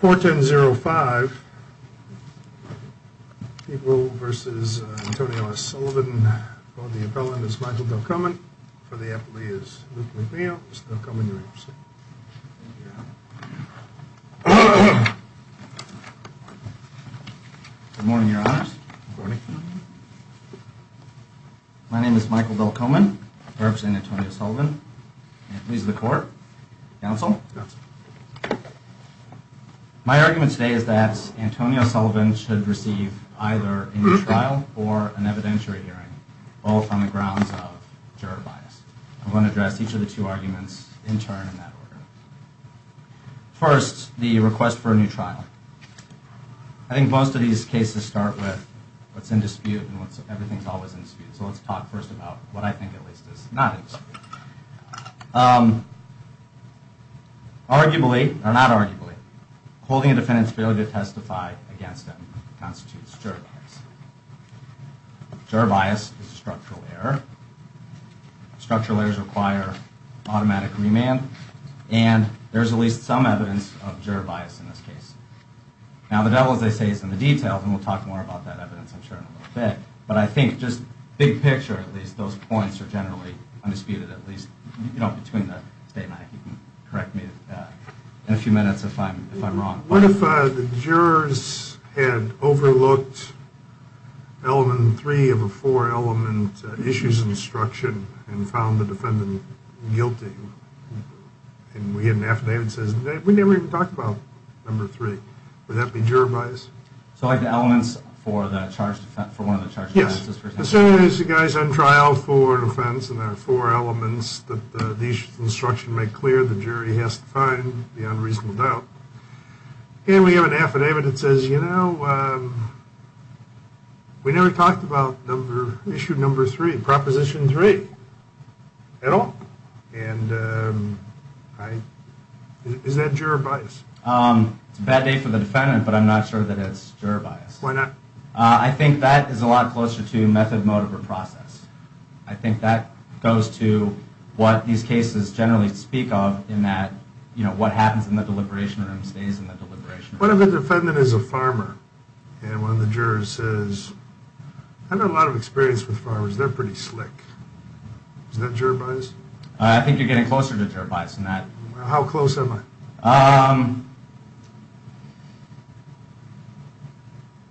410-05, people v. Antonio Sullivan, for the appellant is Michael Delcomen, for the appellee is Luke McNeil. Mr. Delcomen, you're up, sir. Thank you, Your Honor. Good morning, Your Honors. Good morning. My name is Michael Delcomen. I represent Antonio Sullivan. I'm the appellee of the court. Counsel? Counsel. My argument today is that Antonio Sullivan should receive either a new trial or an evidentiary hearing, both on the grounds of juror bias. I'm going to address each of the two arguments in turn in that order. First, the request for a new trial. I think most of these cases start with what's in dispute, and everything's always in dispute. So let's talk first about what I think at least is not in dispute. Arguably, or not arguably, holding a defendant's ability to testify against them constitutes juror bias. Juror bias is a structural error. Structural errors require automatic remand, and there's at least some evidence of juror bias in this case. Now, the devil, as they say, is in the details, and we'll talk more about that evidence, I'm sure, in a little bit. But I think just big picture, at least, those points are generally undisputed, at least, you know, between the statement. If you can correct me in a few minutes if I'm wrong. What if the jurors had overlooked element three of a four-element issues instruction and found the defendant guilty? And we get an affidavit that says, we never even talked about number three. Would that be juror bias? So like the elements for one of the charged offenses? Yes. As soon as the guy's on trial for an offense and there are four elements that the issues instruction make clear, the jury has to find the unreasonable doubt. And we have an affidavit that says, you know, we never talked about issue number three, proposition three, at all. And is that juror bias? It's a bad day for the defendant, but I'm not sure that it's juror bias. Why not? I think that is a lot closer to method, motive, or process. I think that goes to what these cases generally speak of in that, you know, what happens in the deliberation room stays in the deliberation room. What if the defendant is a farmer and one of the jurors says, I have a lot of experience with farmers. They're pretty slick. Is that juror bias? I think you're getting closer to juror bias than that. How close am I?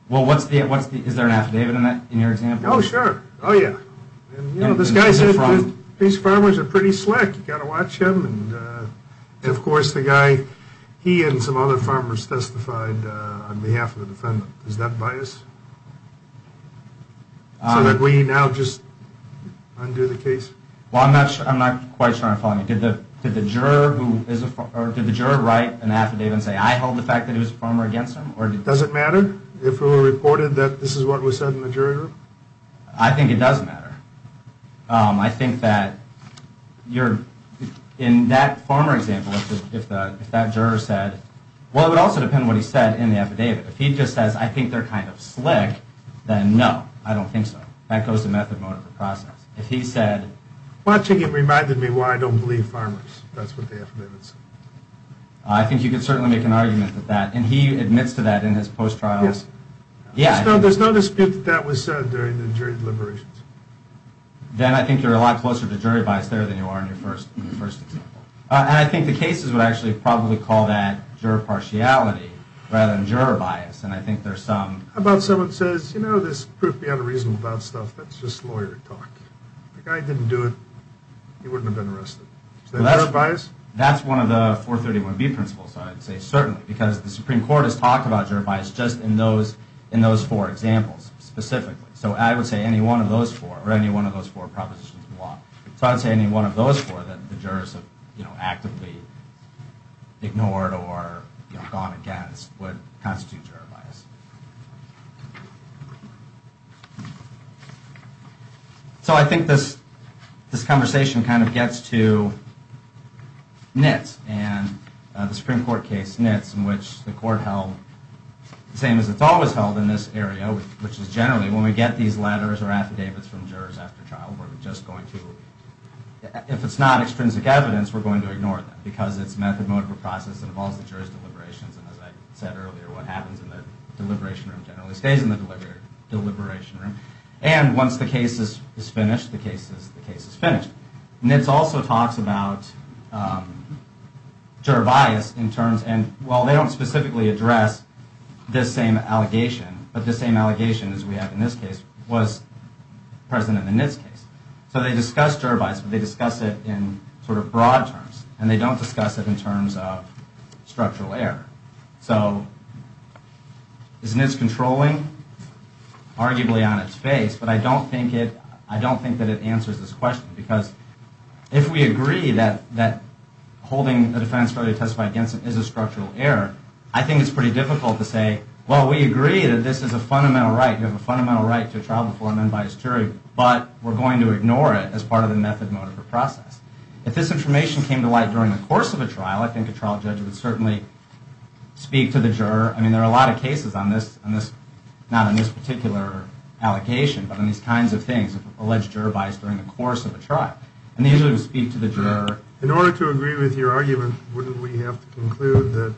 Well, what's the, is there an affidavit in that, in your example? Oh, sure. Oh, yeah. And you know, this guy said these farmers are pretty slick. You got to watch him. And of course, the guy, he and some other farmers testified on behalf of the defendant. Is that bias? So that we now just undo the case? Well, I'm not quite sure I'm following you. Did the juror write an affidavit and say, I hold the fact that he was a farmer against him? Does it matter if it were reported that this is what was said in the jury room? I think it does matter. I think that you're, in that farmer example, if that juror said, well, it would also depend on what he said in the affidavit. If he just says, I think they're kind of slick, then no, I don't think so. That goes to method mode of the process. If he said, well, I think it reminded me why I don't believe farmers. That's what the affidavit said. I think you can certainly make an argument with that. And he admits to that in his post-trials. Yeah. There's no dispute that that was said during the jury deliberations. Dan, I think you're a lot closer to jury bias there than you are in your first example. And I think the cases would actually probably call that juror partiality rather than juror bias. And I think there's some... How about someone says, you know, there's proof you have a reason about stuff that's just lawyer talk. The guy didn't do it, he wouldn't have been arrested. Is that juror bias? That's one of the 431B principles, I'd say, certainly. Because the Supreme Court has talked about juror bias just in those four examples specifically. So I would say any one of those four, or any one of those four propositions in law. So I would say any one of those four that the jurors have actively ignored or gone against would constitute juror bias. So I think this conversation kind of gets to NITS and the Supreme Court case NITS, in which the court held, the same as it's always held in this area, which is generally when we get these letters or affidavits from jurors after trial, we're just going to... And once the case is finished, the case is finished. NITS also talks about juror bias in terms... And while they don't specifically address this same allegation, but the same allegation as we have in this case was present in the NITS case. So they discuss juror bias, but they discuss it in sort of broad terms. And they don't discuss it in terms of structural error. So is NITS controlling? Arguably on its face. But I don't think it... I don't think that it answers this question. Because if we agree that holding a defense failure to testify against it is a structural error, I think it's pretty difficult to say, well, we agree that this is a fundamental right. You have a fundamental right to a trial before an unbiased jury, but we're going to ignore it as part of the method, motive, or process. If this information came to light during the course of a trial, I think a trial judge would certainly speak to the juror. I mean, there are a lot of cases on this, not on this particular allocation, but on these kinds of things, alleged juror bias during the course of a trial. And they usually would speak to the juror. In order to agree with your argument, wouldn't we have to conclude that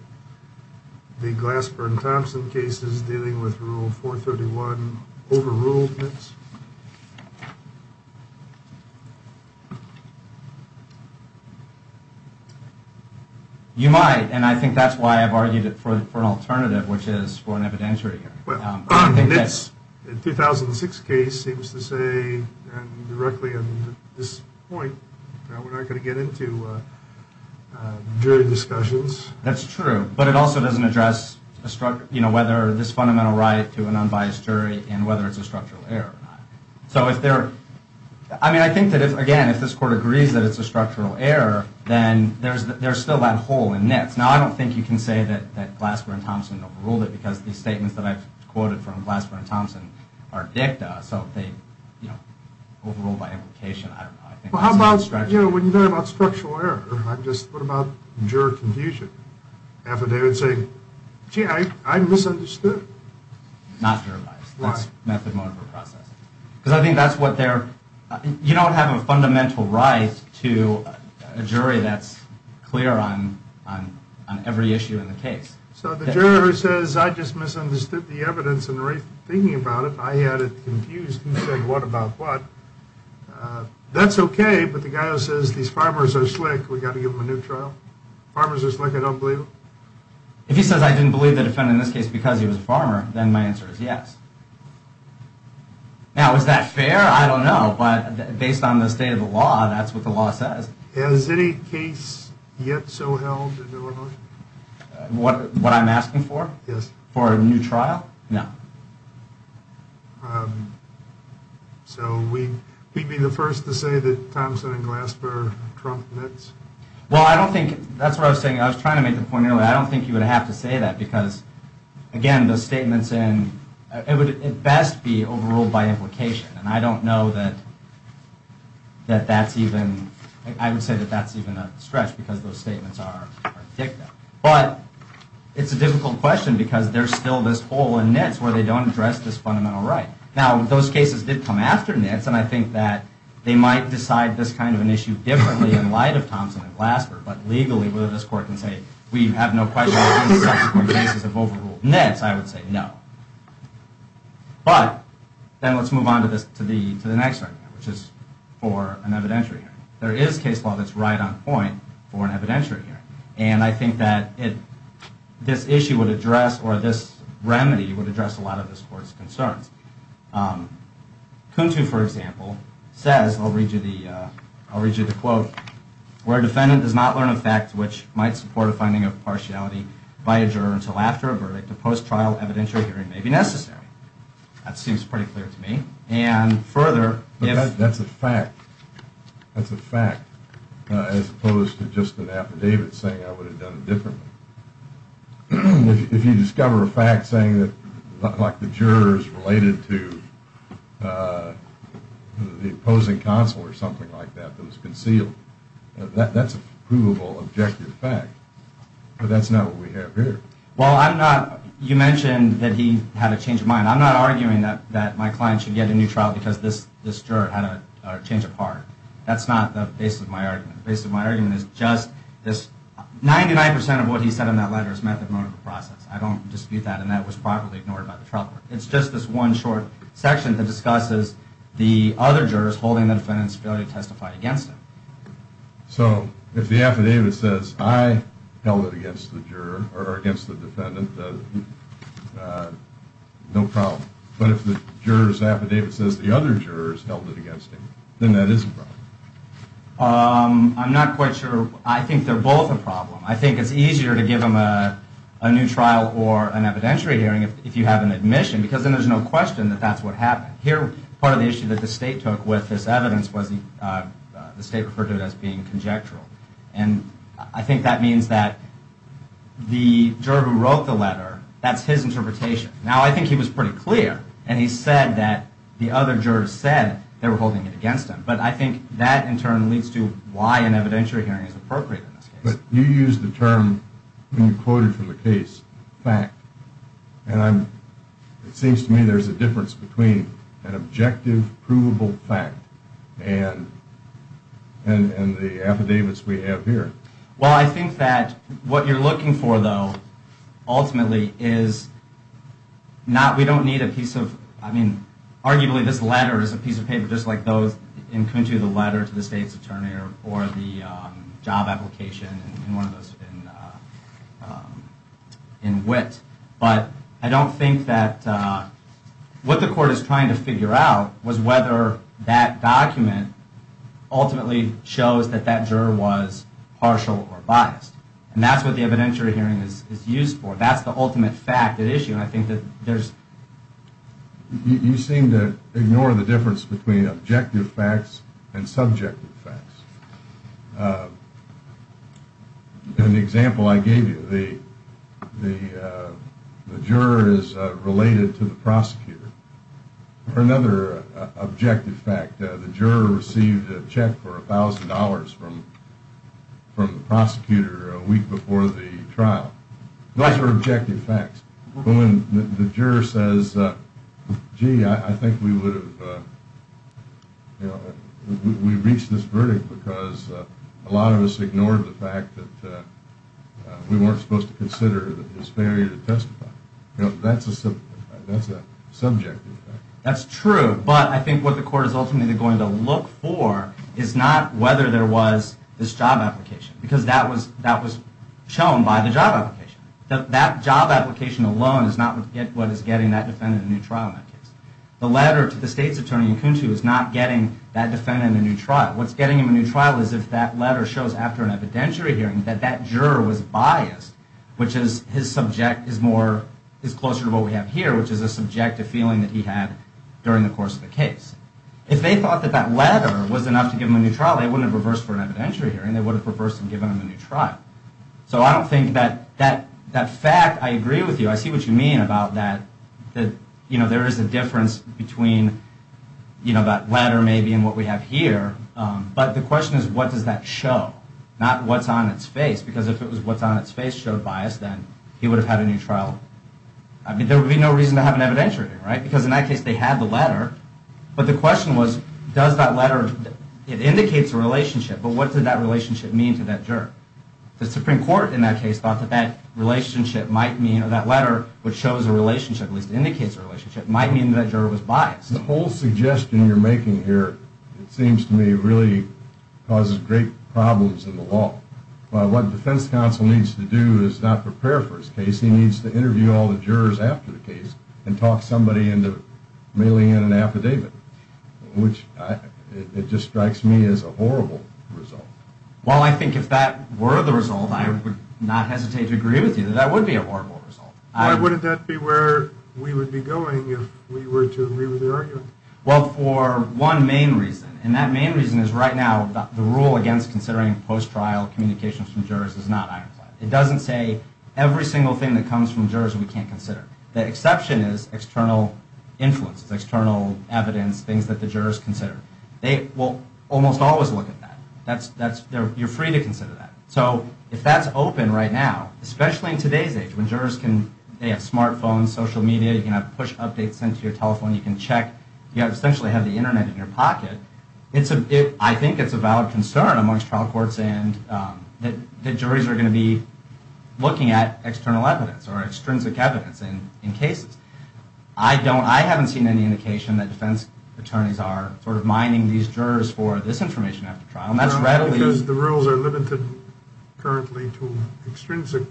the Glassburn-Thompson case is dealing with Rule 431 overruled NITS? You might, and I think that's why I've argued it for an alternative, which is for an evidentiary hearing. The 2006 case seems to say, directly at this point, we're not going to get into jury discussions. That's true, but it also doesn't address whether this fundamental right to an unbiased jury and whether it's a structural error or not. I mean, I think that, again, if this Court agrees that it's a structural error, then there's still that hole in NITS. Now, I don't think you can say that Glassburn-Thompson overruled it, because the statements that I've quoted from Glassburn-Thompson are dicta, so if they overrule by implication, I don't know. Well, how about, you know, when you talk about structural error, what about juror confusion? Affidavit saying, gee, I misunderstood. Not juror bias. That's methodological processing. Because I think that's what they're, you don't have a fundamental right to a jury that's clear on every issue in the case. So the juror who says, I just misunderstood the evidence in the race, thinking about it, I had it confused, and said, what about what? That's okay, but the guy who says these farmers are slick, we've got to give them a new trial? Farmers are slick, I don't believe them? If he says I didn't believe the defendant in this case because he was a farmer, then my answer is yes. Now, is that fair? I don't know, but based on the state of the law, that's what the law says. Has any case yet so held in Illinois? What I'm asking for? Yes. For a new trial? No. So we'd be the first to say that Thompson and Glasper trump Mitts? Well, I don't think, that's what I was saying, I was trying to make the point earlier, I don't think you would have to say that, because, again, the statements in, it would at best be overruled by implication. And I don't know that that's even, I would say that that's even a stretch, because those statements are dicta. But it's a difficult question, because there's still this hole in Mitts where they don't address this fundamental right. Now, those cases did come after Mitts, and I think that they might decide this kind of an issue differently in light of Thompson and Glasper. But legally, whether this court can say, we have no question that these cases have overruled Mitts, I would say no. But, then let's move on to the next argument, which is for an evidentiary hearing. There is case law that's right on point for an evidentiary hearing. And I think that this issue would address, or this remedy would address a lot of this court's concerns. Kuntu, for example, says, I'll read you the quote, where a defendant does not learn a fact which might support a finding of partiality by a juror until after a verdict, a post-trial evidentiary hearing may be necessary. That seems pretty clear to me. And, further, if... That's a fact. That's a fact, as opposed to just an affidavit saying I would have done it differently. If you discover a fact saying that, like, the juror is related to the opposing counsel or something like that that was concealed, that's a provable, objective fact. But that's not what we have here. Well, I'm not... You mentioned that he had a change of mind. I'm not arguing that my client should get a new trial because this juror had a change of heart. That's not the basis of my argument. 99% of what he said in that letter is methodological process. I don't dispute that, and that was properly ignored by the trial court. It's just this one short section that discusses the other jurors holding the defendant's ability to testify against him. So if the affidavit says I held it against the juror or against the defendant, no problem. But if the juror's affidavit says the other jurors held it against him, then that is a problem. I'm not quite sure. I think they're both a problem. I think it's easier to give him a new trial or an evidentiary hearing if you have an admission, because then there's no question that that's what happened. Here, part of the issue that the state took with this evidence was the state referred to it as being conjectural. And I think that means that the juror who wrote the letter, that's his interpretation. Now, I think he was pretty clear, and he said that the other jurors said they were holding it against him. But I think that, in turn, leads to why an evidentiary hearing is appropriate in this case. But you used the term when you quoted from the case, fact. And it seems to me there's a difference between an objective, provable fact and the affidavits we have here. Well, I think that what you're looking for, though, ultimately, is not we don't need a piece of, I mean, you can come to the letter to the state's attorney or the job application, and one of those in wit. But I don't think that what the court is trying to figure out was whether that document ultimately shows that that juror was partial or biased. And that's what the evidentiary hearing is used for. That's the ultimate fact at issue, and I think that there's... You seem to ignore the difference between objective facts and subjective facts. In the example I gave you, the juror is related to the prosecutor. For another objective fact, the juror received a check for $1,000 from the prosecutor a week before the trial. Those are objective facts. When the juror says, gee, I think we would have, you know, we reached this verdict because a lot of us ignored the fact that we weren't supposed to consider that it was fair to testify. You know, that's a subjective fact. That job application alone is not what is getting that defendant a new trial in that case. The letter to the state's attorney in Kuntu is not getting that defendant a new trial. What's getting him a new trial is if that letter shows after an evidentiary hearing that that juror was biased, which is his subject is more, is closer to what we have here, which is a subjective feeling that he had during the course of the case. If they thought that that letter was enough to give him a new trial, they wouldn't have reversed for an evidentiary hearing. They would have reversed and given him a new trial. So I don't think that that fact, I agree with you. I see what you mean about that, that, you know, there is a difference between, you know, that letter maybe and what we have here. But the question is, what does that show? Not what's on its face, because if it was what's on its face showed bias, then he would have had a new trial. I mean, there would be no reason to have an evidentiary hearing, right? Because in that case, they had the letter. But the question was, does that letter, it indicates a relationship, but what did that relationship mean to that juror? The Supreme Court in that case thought that that relationship might mean, or that letter, which shows a relationship, at least indicates a relationship, might mean that juror was biased. The whole suggestion you're making here, it seems to me, really causes great problems in the law. What defense counsel needs to do is not prepare for his case. He needs to interview all the jurors after the case and talk somebody into mailing in an affidavit, which it just strikes me as a horrible result. Well, I think if that were the result, I would not hesitate to agree with you. That would be a horrible result. Why wouldn't that be where we would be going if we were to agree with the argument? Well, for one main reason, and that main reason is right now the rule against considering post-trial communications from jurors is not ironclad. It doesn't say every single thing that comes from jurors we can't consider. The exception is external influences, external evidence, things that the jurors consider. They will almost always look at that. You're free to consider that. So if that's open right now, especially in today's age, when jurors can, they have smartphones, social media, you can have push updates sent to your telephone, you can check, you essentially have the Internet in your pocket, I think it's a valid concern amongst trial courts that juries are going to be looking at external evidence or extrinsic evidence in cases. I haven't seen any indication that defense attorneys are sort of mining these jurors for this information after trial, and that's readily... Because the rules are limited currently to extrinsic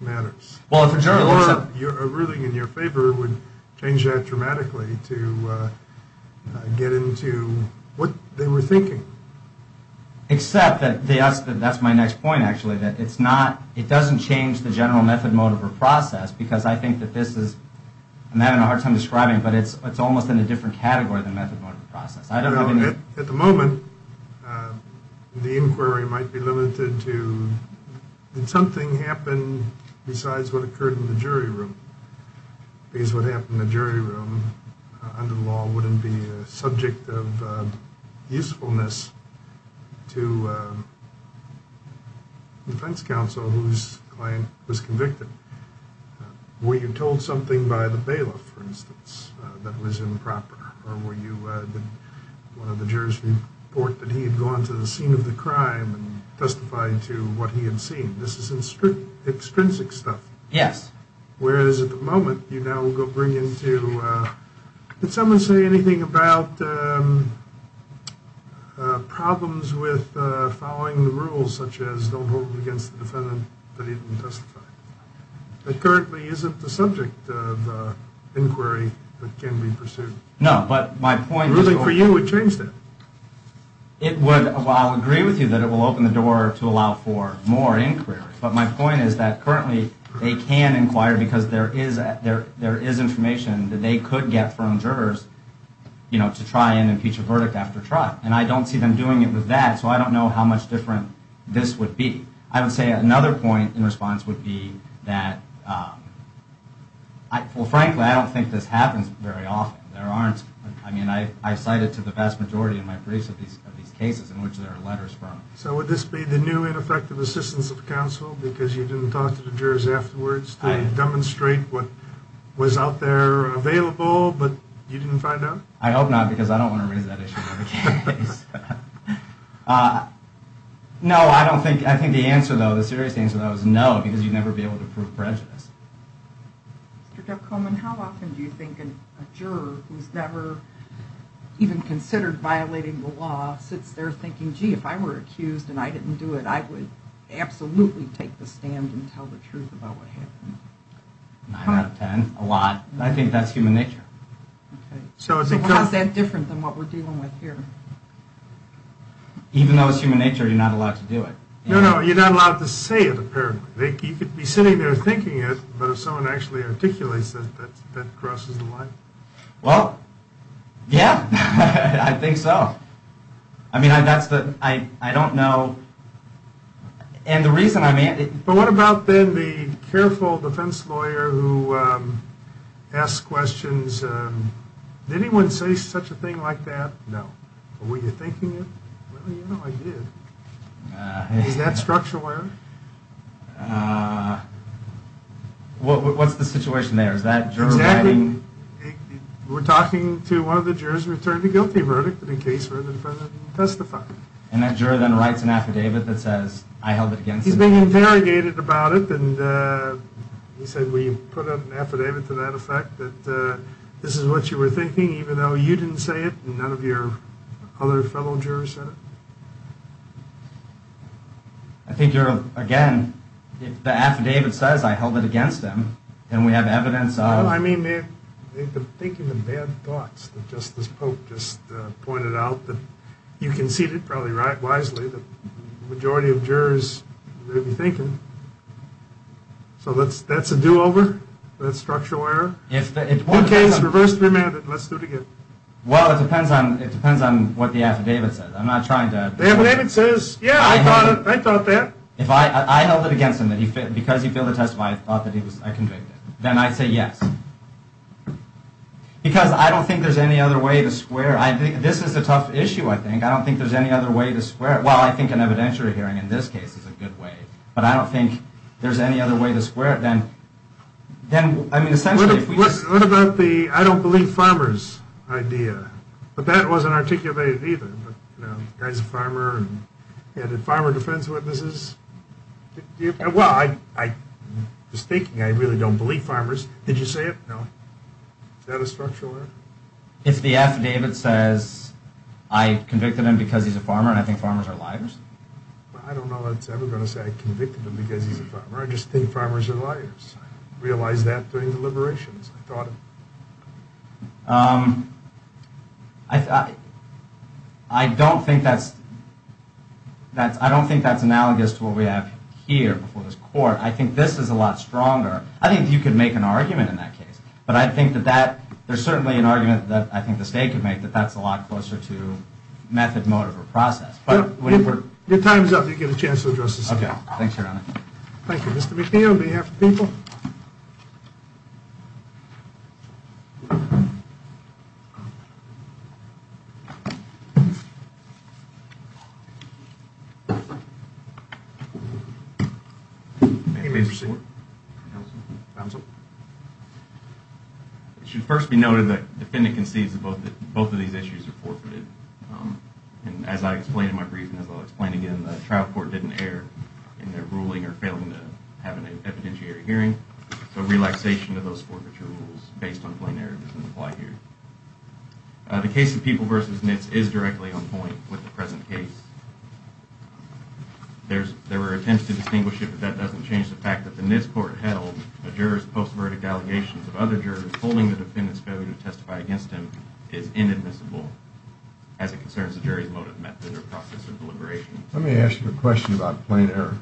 matters. A ruling in your favor would change that dramatically to get into what they were thinking. Except that that's my next point, actually, that it's not, it doesn't change the general method, mode, or process, because I think that this is, I'm having a hard time describing, but it's almost in a different category than method, mode, or process. At the moment, the inquiry might be limited to, did something happen besides what occurred in the jury room? Because what happened in the jury room, under the law, wouldn't be a subject of usefulness to the defense counsel whose client was convicted. Were you told something by the bailiff, for instance, that was improper? Or were you, did one of the jurors report that he had gone to the scene of the crime and testified to what he had seen? This is extrinsic stuff. Yes. Whereas at the moment, you now go bring into, did someone say anything about problems with following the rules, such as don't hold them against the defendant that he didn't testify? That currently isn't the subject of inquiry that can be pursued. No, but my point is... The ruling for you would change that. It would, well, I'll agree with you that it will open the door to allow for more inquiry. But my point is that currently they can inquire, because there is information that they could get from jurors, you know, to try and impeach a verdict after trial. And I don't see them doing it with that, so I don't know how much different this would be. I would say another point in response would be that, well, frankly, I don't think this happens very often. There aren't, I mean, I cite it to the vast majority in my briefs of these cases in which there are letters from. So would this be the new ineffective assistance of counsel, because you didn't talk to the jurors afterwards to demonstrate what was out there available, but you didn't find out? I hope not, because I don't want to raise that issue in every case. No, I don't think, I think the answer, though, the serious answer, though, is no, because you'd never be able to prove prejudice. Mr. Koeman, how often do you think a juror who's never even considered violating the law sits there thinking, gee, if I were accused and I didn't do it, I would absolutely take the stand and tell the truth about what happened? Nine out of ten, a lot. I think that's human nature. So how's that different than what we're dealing with here? Even though it's human nature, you're not allowed to do it. No, no, you're not allowed to say it, apparently. You could be sitting there thinking it, but if someone actually articulates it, that crosses the line. Well, yeah, I think so. I mean, that's the, I don't know, and the reason, I mean. But what about then the careful defense lawyer who asks questions, did anyone say such a thing like that? No. But were you thinking it? Well, you know I did. Is that structural error? What's the situation there? Is that juror writing? Exactly. We're talking to one of the jurors who returned a guilty verdict in a case where the defendant didn't testify. And that juror then writes an affidavit that says, I held it against him. He's been interrogated about it. And he said, we put up an affidavit to that effect, that this is what you were thinking, even though you didn't say it and none of your other fellow jurors said it. I think you're, again, if the affidavit says, I held it against him, then we have evidence of. Well, I mean, they've been thinking of bad thoughts. Justice Polk just pointed out that you conceded, probably wisely, the majority of jurors may be thinking. So that's a do-over? That's structural error? If the case is reversed, remanded, let's do it again. Well, it depends on what the affidavit says. I'm not trying to. The affidavit says, yeah, I thought that. If I held it against him, because he failed to testify, I thought that I convicted, then I'd say yes. Because I don't think there's any other way to square. This is a tough issue, I think. I don't think there's any other way to square it. Well, I think an evidentiary hearing, in this case, is a good way. But I don't think there's any other way to square it than, I mean, essentially. What about the I don't believe farmers idea? But that wasn't articulated either. You know, the guy's a farmer. Yeah, did farmer defense witnesses? Well, I was thinking I really don't believe farmers. Did you say it? No. Is that a structural error? If the affidavit says I convicted him because he's a farmer and I think farmers are liars? I don't know that's ever going to say I convicted him because he's a farmer. I just think farmers are liars. I realized that during the liberations. I thought of it. I don't think that's analogous to what we have here before this court. I think this is a lot stronger. I think you could make an argument in that case. But I think that there's certainly an argument that I think the state could make that that's a lot closer to method, motive, or process. Your time's up. You get a chance to address this. Okay. Thanks, Your Honor. Thank you. Mr. McNeil, on behalf of the people. Thank you. May I please proceed? Counsel. Counsel. It should first be noted that the defendant concedes that both of these issues are forfeited. And as I explained in my brief, and as I'll explain again, the trial court didn't err in their ruling or failing to have an evidentiary hearing. So relaxation of those forfeiture rules based on plain error doesn't apply here. The case of People v. Nitz is directly on point with the present case. There were attempts to distinguish it, but that doesn't change the fact that the Nitz court held a juror's post-verdict allegations of other jurors holding the defendant's failure to testify against him is inadmissible as it concerns the jury's motive, method, or process of deliberation. Let me ask you a question about plain error.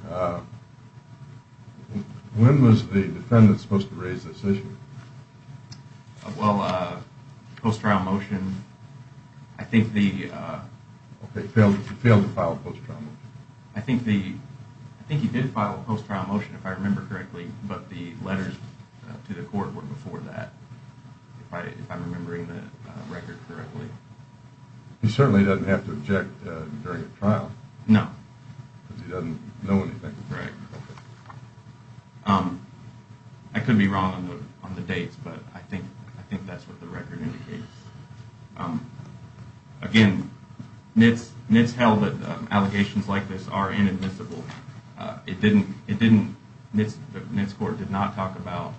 When was the defendant supposed to raise this issue? Well, post-trial motion, I think the... Okay, failed to file a post-trial motion. I think he did file a post-trial motion, if I remember correctly, but the letters to the court were before that. If I'm remembering the record correctly. He certainly doesn't have to object during a trial. No. Because he doesn't know anything. Correct. I could be wrong on the dates, but I think that's what the record indicates. Again, Nitz held that allegations like this are inadmissible. Nitz court did not talk about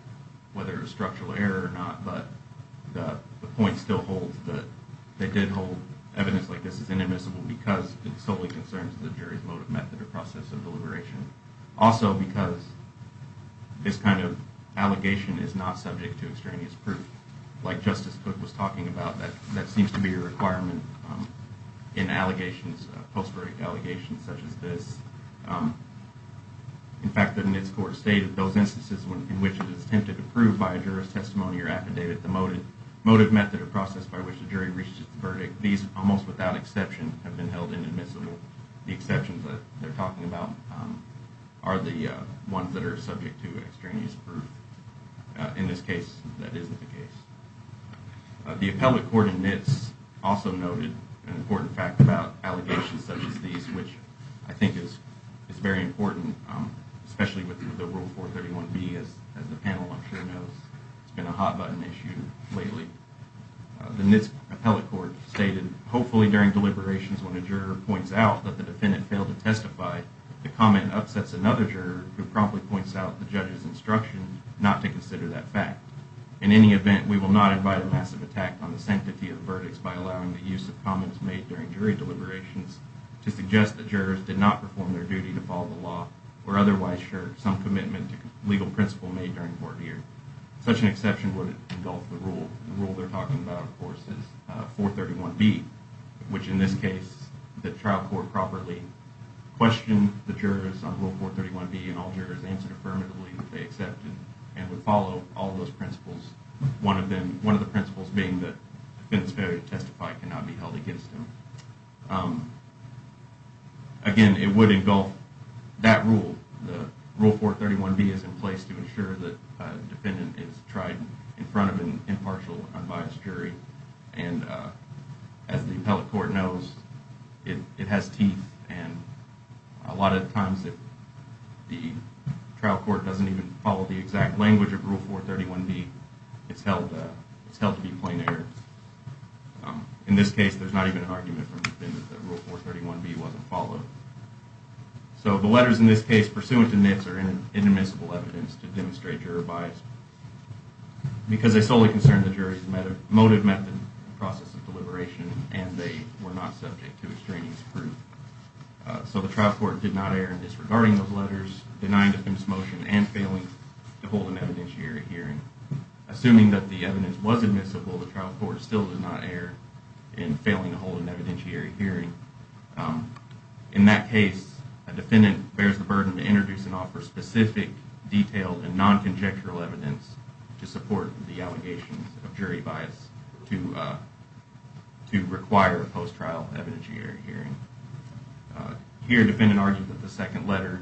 whether it was structural error or not, but the point still holds that they did hold evidence like this is inadmissible because it solely concerns the jury's motive, method, or process of deliberation. Also because this kind of allegation is not subject to extraneous proof. Like Justice Cook was talking about, that seems to be a requirement in allegations, post-verdict allegations such as this. In fact, the Nitz court stated, those instances in which it is attempted to prove by a juror's testimony or affidavit the motive, method, or process by which the jury reached its verdict, these, almost without exception, have been held inadmissible. The exceptions that they're talking about are the ones that are subject to extraneous proof. In this case, that isn't the case. The appellate court in Nitz also noted an important fact about allegations such as these, which I think is very important, especially with the Rule 431B. As the panel I'm sure knows, it's been a hot-button issue lately. The Nitz appellate court stated, hopefully during deliberations when a juror points out that the defendant failed to testify, the comment upsets another juror who promptly points out the judge's instruction not to consider that fact. In any event, we will not invite a massive attack on the sanctity of the verdicts by allowing the use of comments made during jury deliberations to suggest that jurors did not perform their duty to follow the law or otherwise shirk some commitment to legal principle made during court years. Such an exception would engulf the rule. The rule they're talking about, of course, is 431B, which in this case the trial court properly questioned the jurors on Rule 431B and all jurors answered affirmatively that they accepted and would follow all those principles, one of the principles being that the defendant's failure to testify cannot be held against him. Again, it would engulf that rule. Rule 431B is in place to ensure that the defendant is tried in front of an impartial, unbiased jury. As the appellate court knows, it has teeth. A lot of times if the trial court doesn't even follow the exact language of Rule 431B, it's held to be plain error. In this case, there's not even an argument from the defendant that Rule 431B wasn't followed. So the letters in this case, pursuant to NITS, are inadmissible evidence to demonstrate juror bias because they solely concern the jury's motive, method, and process of deliberation and they were not subject to extraneous proof. So the trial court did not err in disregarding those letters, denying defense motion, and failing to hold an evidentiary hearing. Assuming that the evidence was admissible, the trial court still did not err in failing to hold an evidentiary hearing. In that case, a defendant bears the burden to introduce and offer specific, detailed and non-conjectural evidence to support the allegations of jury bias to require a post-trial evidentiary hearing. Here, the defendant argued that the second letter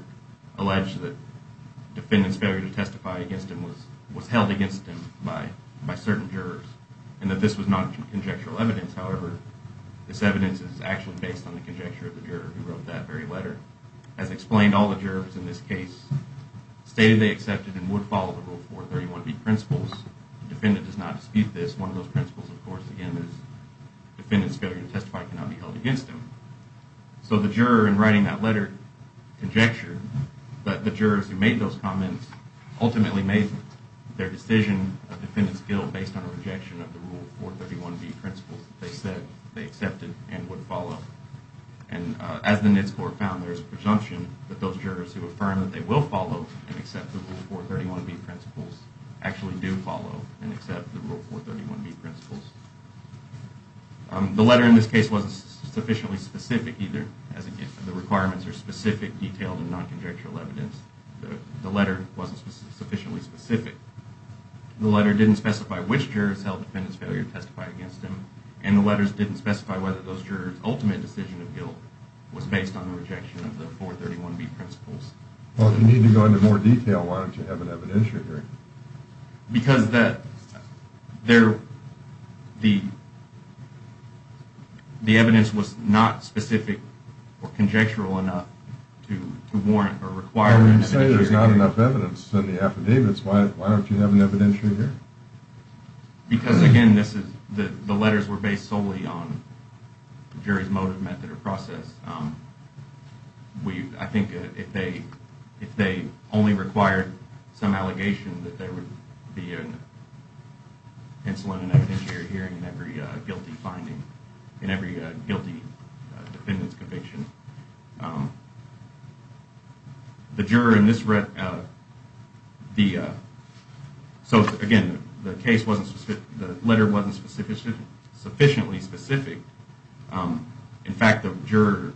alleged that the defendant's failure to testify against him was held against him by certain jurors and that this was non-conjectural evidence. However, this evidence is actually based on the conjecture of the juror who wrote that very letter. As explained, all the jurors in this case stated they accepted and would follow the Rule 431B principles. The defendant does not dispute this. One of those principles, of course, again, is the defendant's failure to testify cannot be held against him. So the juror in writing that letter conjectured that the jurors who made those comments ultimately made their decision a defendant's guilt based on a rejection of the Rule 431B principles that they said they accepted and would follow. And as the NITS Court found, there is a presumption that those jurors who affirm that they will follow and accept the Rule 431B principles actually do follow and accept the Rule 431B principles. The letter in this case wasn't sufficiently specific either. The requirements are specific, detailed and non-conjectural evidence. The letter wasn't sufficiently specific. The letter didn't specify which jurors held the defendant's failure to testify against him and the letters didn't specify whether those jurors' ultimate decision of guilt was based on a rejection of the 431B principles. Well, if you need to go into more detail, why don't you have an evidentiary hearing? Because the evidence was not specific or conjectural enough to warrant or require an evidentiary hearing. You say there's not enough evidence in the affidavits. Why don't you have an evidentiary hearing? Because, again, the letters were based solely on the jury's motive, method or process. I think if they only required some allegation that there would be an insolent and evidentiary hearing in every guilty finding, in every guilty defendant's conviction. So, again, the letter wasn't sufficiently specific. In fact, the juror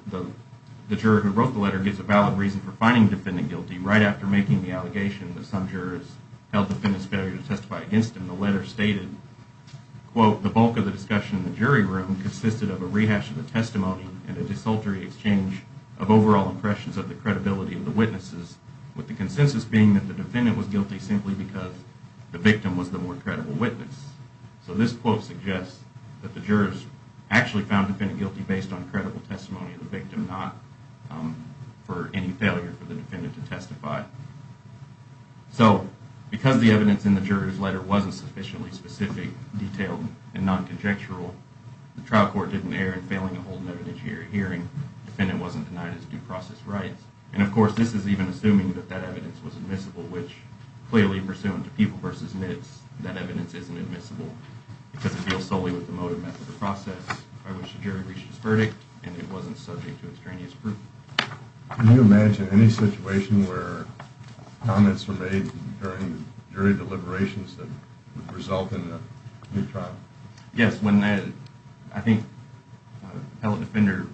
who wrote the letter gives a valid reason for finding the defendant guilty. Right after making the allegation that some jurors held the defendant's failure to testify against him, the bulk of the discussion in the jury room consisted of a rehash of the testimony and a disultery exchange of overall impressions of the credibility of the witnesses, with the consensus being that the defendant was guilty simply because the victim was the more credible witness. So this quote suggests that the jurors actually found the defendant guilty based on credible testimony of the victim, So, because the evidence in the juror's letter wasn't sufficiently specific, detailed, and non-conjectural, the trial court didn't err in failing to hold an evidentiary hearing, the defendant wasn't denied his due process rights. And, of course, this is even assuming that that evidence was admissible, which, clearly, pursuant to Pupil v. Nitz, that evidence isn't admissible because it deals solely with the motive, method, or process by which the jury reached its verdict, and it wasn't subject to extraneous proof. Can you imagine any situation where comments were made during jury deliberations that would result in a new trial? Yes. I think the appellate defender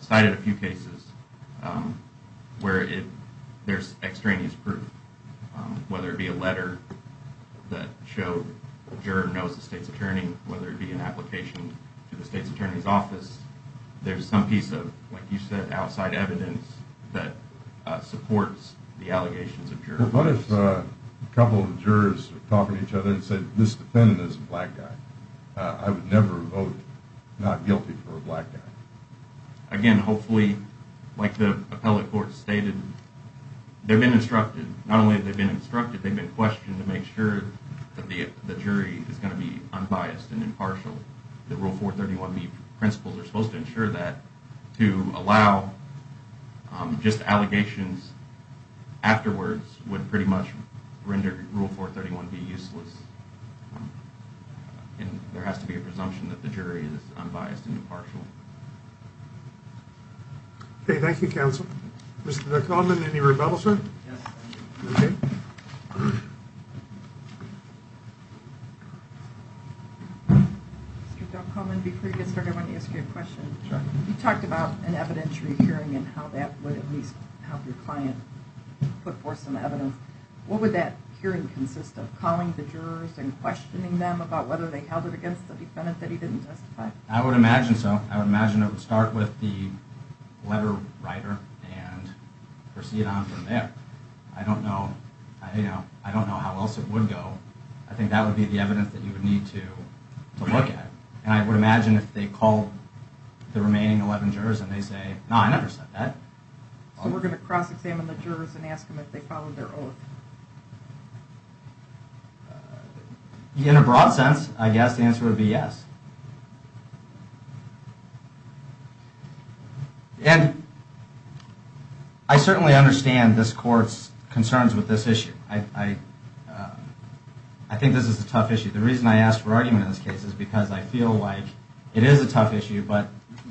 cited a few cases where there's extraneous proof, whether it be a letter that showed the juror knows the state's attorney, whether it be an application to the state's attorney's office, there's some piece of, like you said, outside evidence that supports the allegations of jurors. Well, what if a couple of jurors were talking to each other and said, This defendant is a black guy. I would never vote not guilty for a black guy. Again, hopefully, like the appellate court stated, they've been instructed. Not only have they been instructed, they've been questioned to make sure that the jury is going to be unbiased and impartial, and the Rule 431B principles are supposed to ensure that, to allow just allegations afterwards would pretty much render Rule 431B useless. There has to be a presumption that the jury is unbiased and impartial. Okay. Thank you, counsel. Mr. Dockholman, any rebuttal, sir? Mr. Dockholman, before you get started, I want to ask you a question. Sure. You talked about an evidentiary hearing and how that would at least help your client put forth some evidence. What would that hearing consist of, calling the jurors and questioning them about whether they held it against the defendant that he didn't testify? I would imagine so. I would imagine it would start with the letter writer and proceed on from there. I don't know how else it would go. I think that would be the evidence that you would need to look at. And I would imagine if they called the remaining 11 jurors and they say, no, I never said that. So we're going to cross-examine the jurors and ask them if they followed their oath? In a broad sense, I guess the answer would be yes. And I certainly understand this court's concerns with this issue. I think this is a tough issue. The reason I asked for argument in this case is because I feel like it is a tough issue, but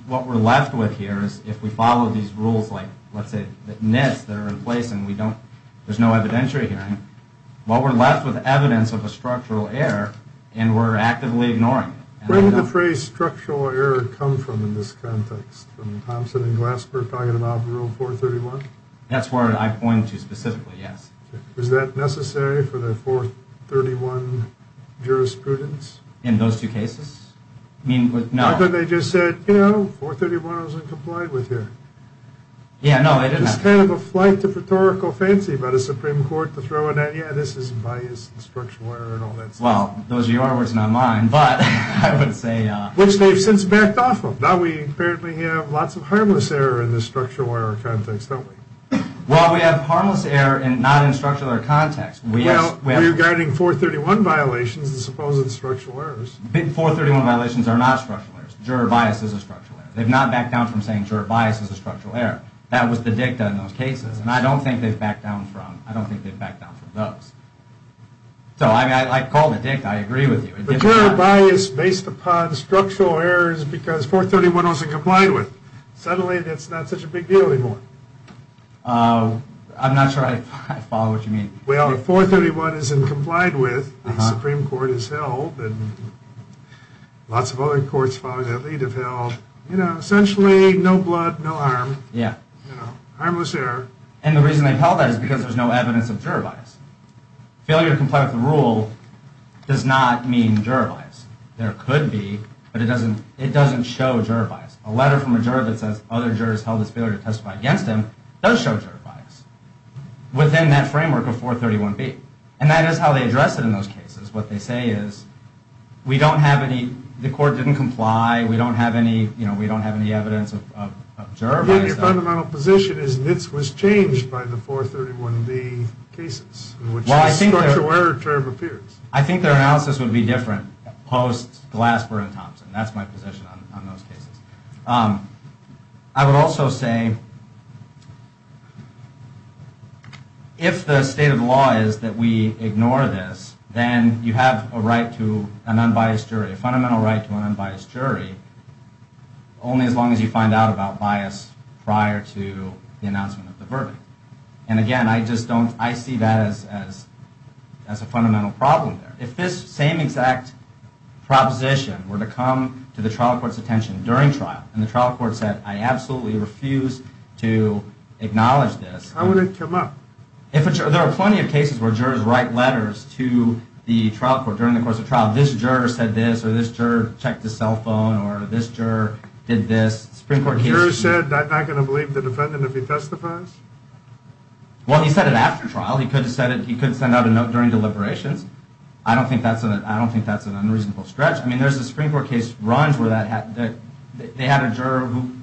what we're left with here is if we follow these rules, like let's say the nets that are in place and there's no evidentiary hearing, well, we're left with evidence of a structural error and we're actively ignoring it. Where did the phrase structural error come from in this context, from Thompson and Glassberg talking about Rule 431? That's where I point to specifically, yes. Was that necessary for the 431 jurisprudence? In those two cases? I thought they just said, you know, 431 wasn't complied with here. It's kind of a flight to rhetorical fancy by the Supreme Court to throw in that, yeah, this is biased and structural error and all that stuff. Well, those are your words, not mine. Which they've since backed off of. Now we apparently have lots of harmless error in this structural error context, don't we? Well, we have harmless error not in structural error context. Well, you're guarding 431 violations as opposed to the structural errors. 431 violations are not structural errors. Juror bias is a structural error. They've not backed down from saying juror bias is a structural error. That was the dicta in those cases, and I don't think they've backed down from those. So, I mean, I called it dicta. I agree with you. But juror bias based upon structural error is because 431 wasn't complied with. Suddenly that's not such a big deal anymore. I'm not sure I follow what you mean. Well, if 431 isn't complied with, the Supreme Court has held, and lots of other courts following that lead have held, you know, essentially no blood, no harm. Yeah. Harmless error. And the reason they've held that is because there's no evidence of juror bias. Failure to comply with the rule does not mean juror bias. There could be, but it doesn't show juror bias. A letter from a juror that says other jurors held this failure to testify against him does show juror bias within that framework of 431B. And that is how they address it in those cases. What they say is we don't have any, the court didn't comply. We don't have any, you know, we don't have any evidence of juror bias. Yeah, your fundamental position is this was changed by the 431B cases in which the structural error term appears. I think their analysis would be different post-Glasper and Thompson. That's my position on those cases. I would also say if the state of the law is that we ignore this, then you have a right to an unbiased jury, a fundamental right to an unbiased jury, only as long as you find out about bias prior to the announcement of the verdict. And again, I just don't, I see that as a fundamental problem there. If this same exact proposition were to come to the trial court's attention during trial, and the trial court said, I absolutely refuse to acknowledge this. How would it come up? There are plenty of cases where jurors write letters to the trial court during the course of trial. This juror said this, or this juror checked his cell phone, or this juror did this. The juror said, I'm not going to believe the defendant if he testifies? Well, he said it after trial. He could send out a note during deliberations. I don't think that's an unreasonable stretch. I mean, there's a Supreme Court case where they had a juror who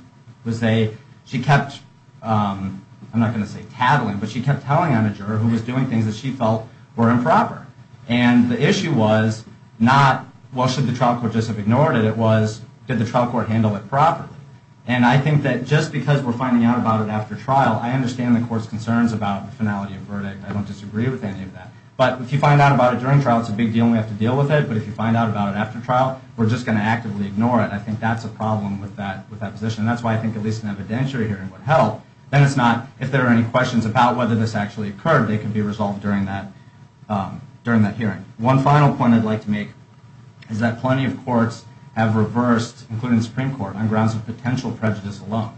was a, she kept, I'm not going to say tattling, but she kept telling on a juror who was doing things that she felt were improper. And the issue was not, well, should the trial court just have ignored it? It was, did the trial court handle it properly? And I think that just because we're finding out about it after trial, I understand the court's concerns about the finality of verdict. I don't disagree with any of that. But if you find out about it during trial, it's a big deal and we have to deal with it. But if you find out about it after trial, we're just going to actively ignore it. I think that's a problem with that position. And that's why I think at least an evidentiary hearing would help. Then it's not, if there are any questions about whether this actually occurred, it can be resolved during that hearing. One final point I'd like to make is that plenty of courts have reversed, including the Supreme Court, on grounds of potential prejudice alone.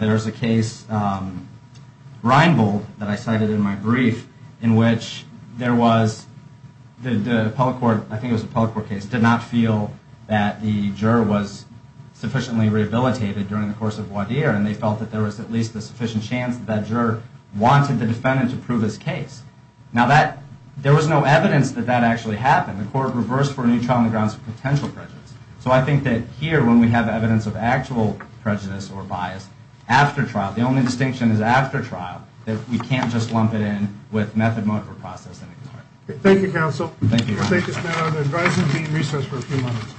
There's a case, Reinbold, that I cited in my brief, in which there was, the appellate court, I think it was the appellate court case, did not feel that the juror was sufficiently rehabilitated during the course of voir dire. And they felt that there was at least a sufficient chance that that juror wanted the defendant to prove his case. Now that, there was no evidence that that actually happened. The court reversed for any trial on the grounds of potential prejudice. So I think that here, when we have evidence of actual prejudice or bias after trial, the only distinction is after trial, that we can't just lump it in with method, mode, or process and ignore it. Thank you, counsel. Thank you. Thank you, sir. I'd advise him to be in recess for a few minutes.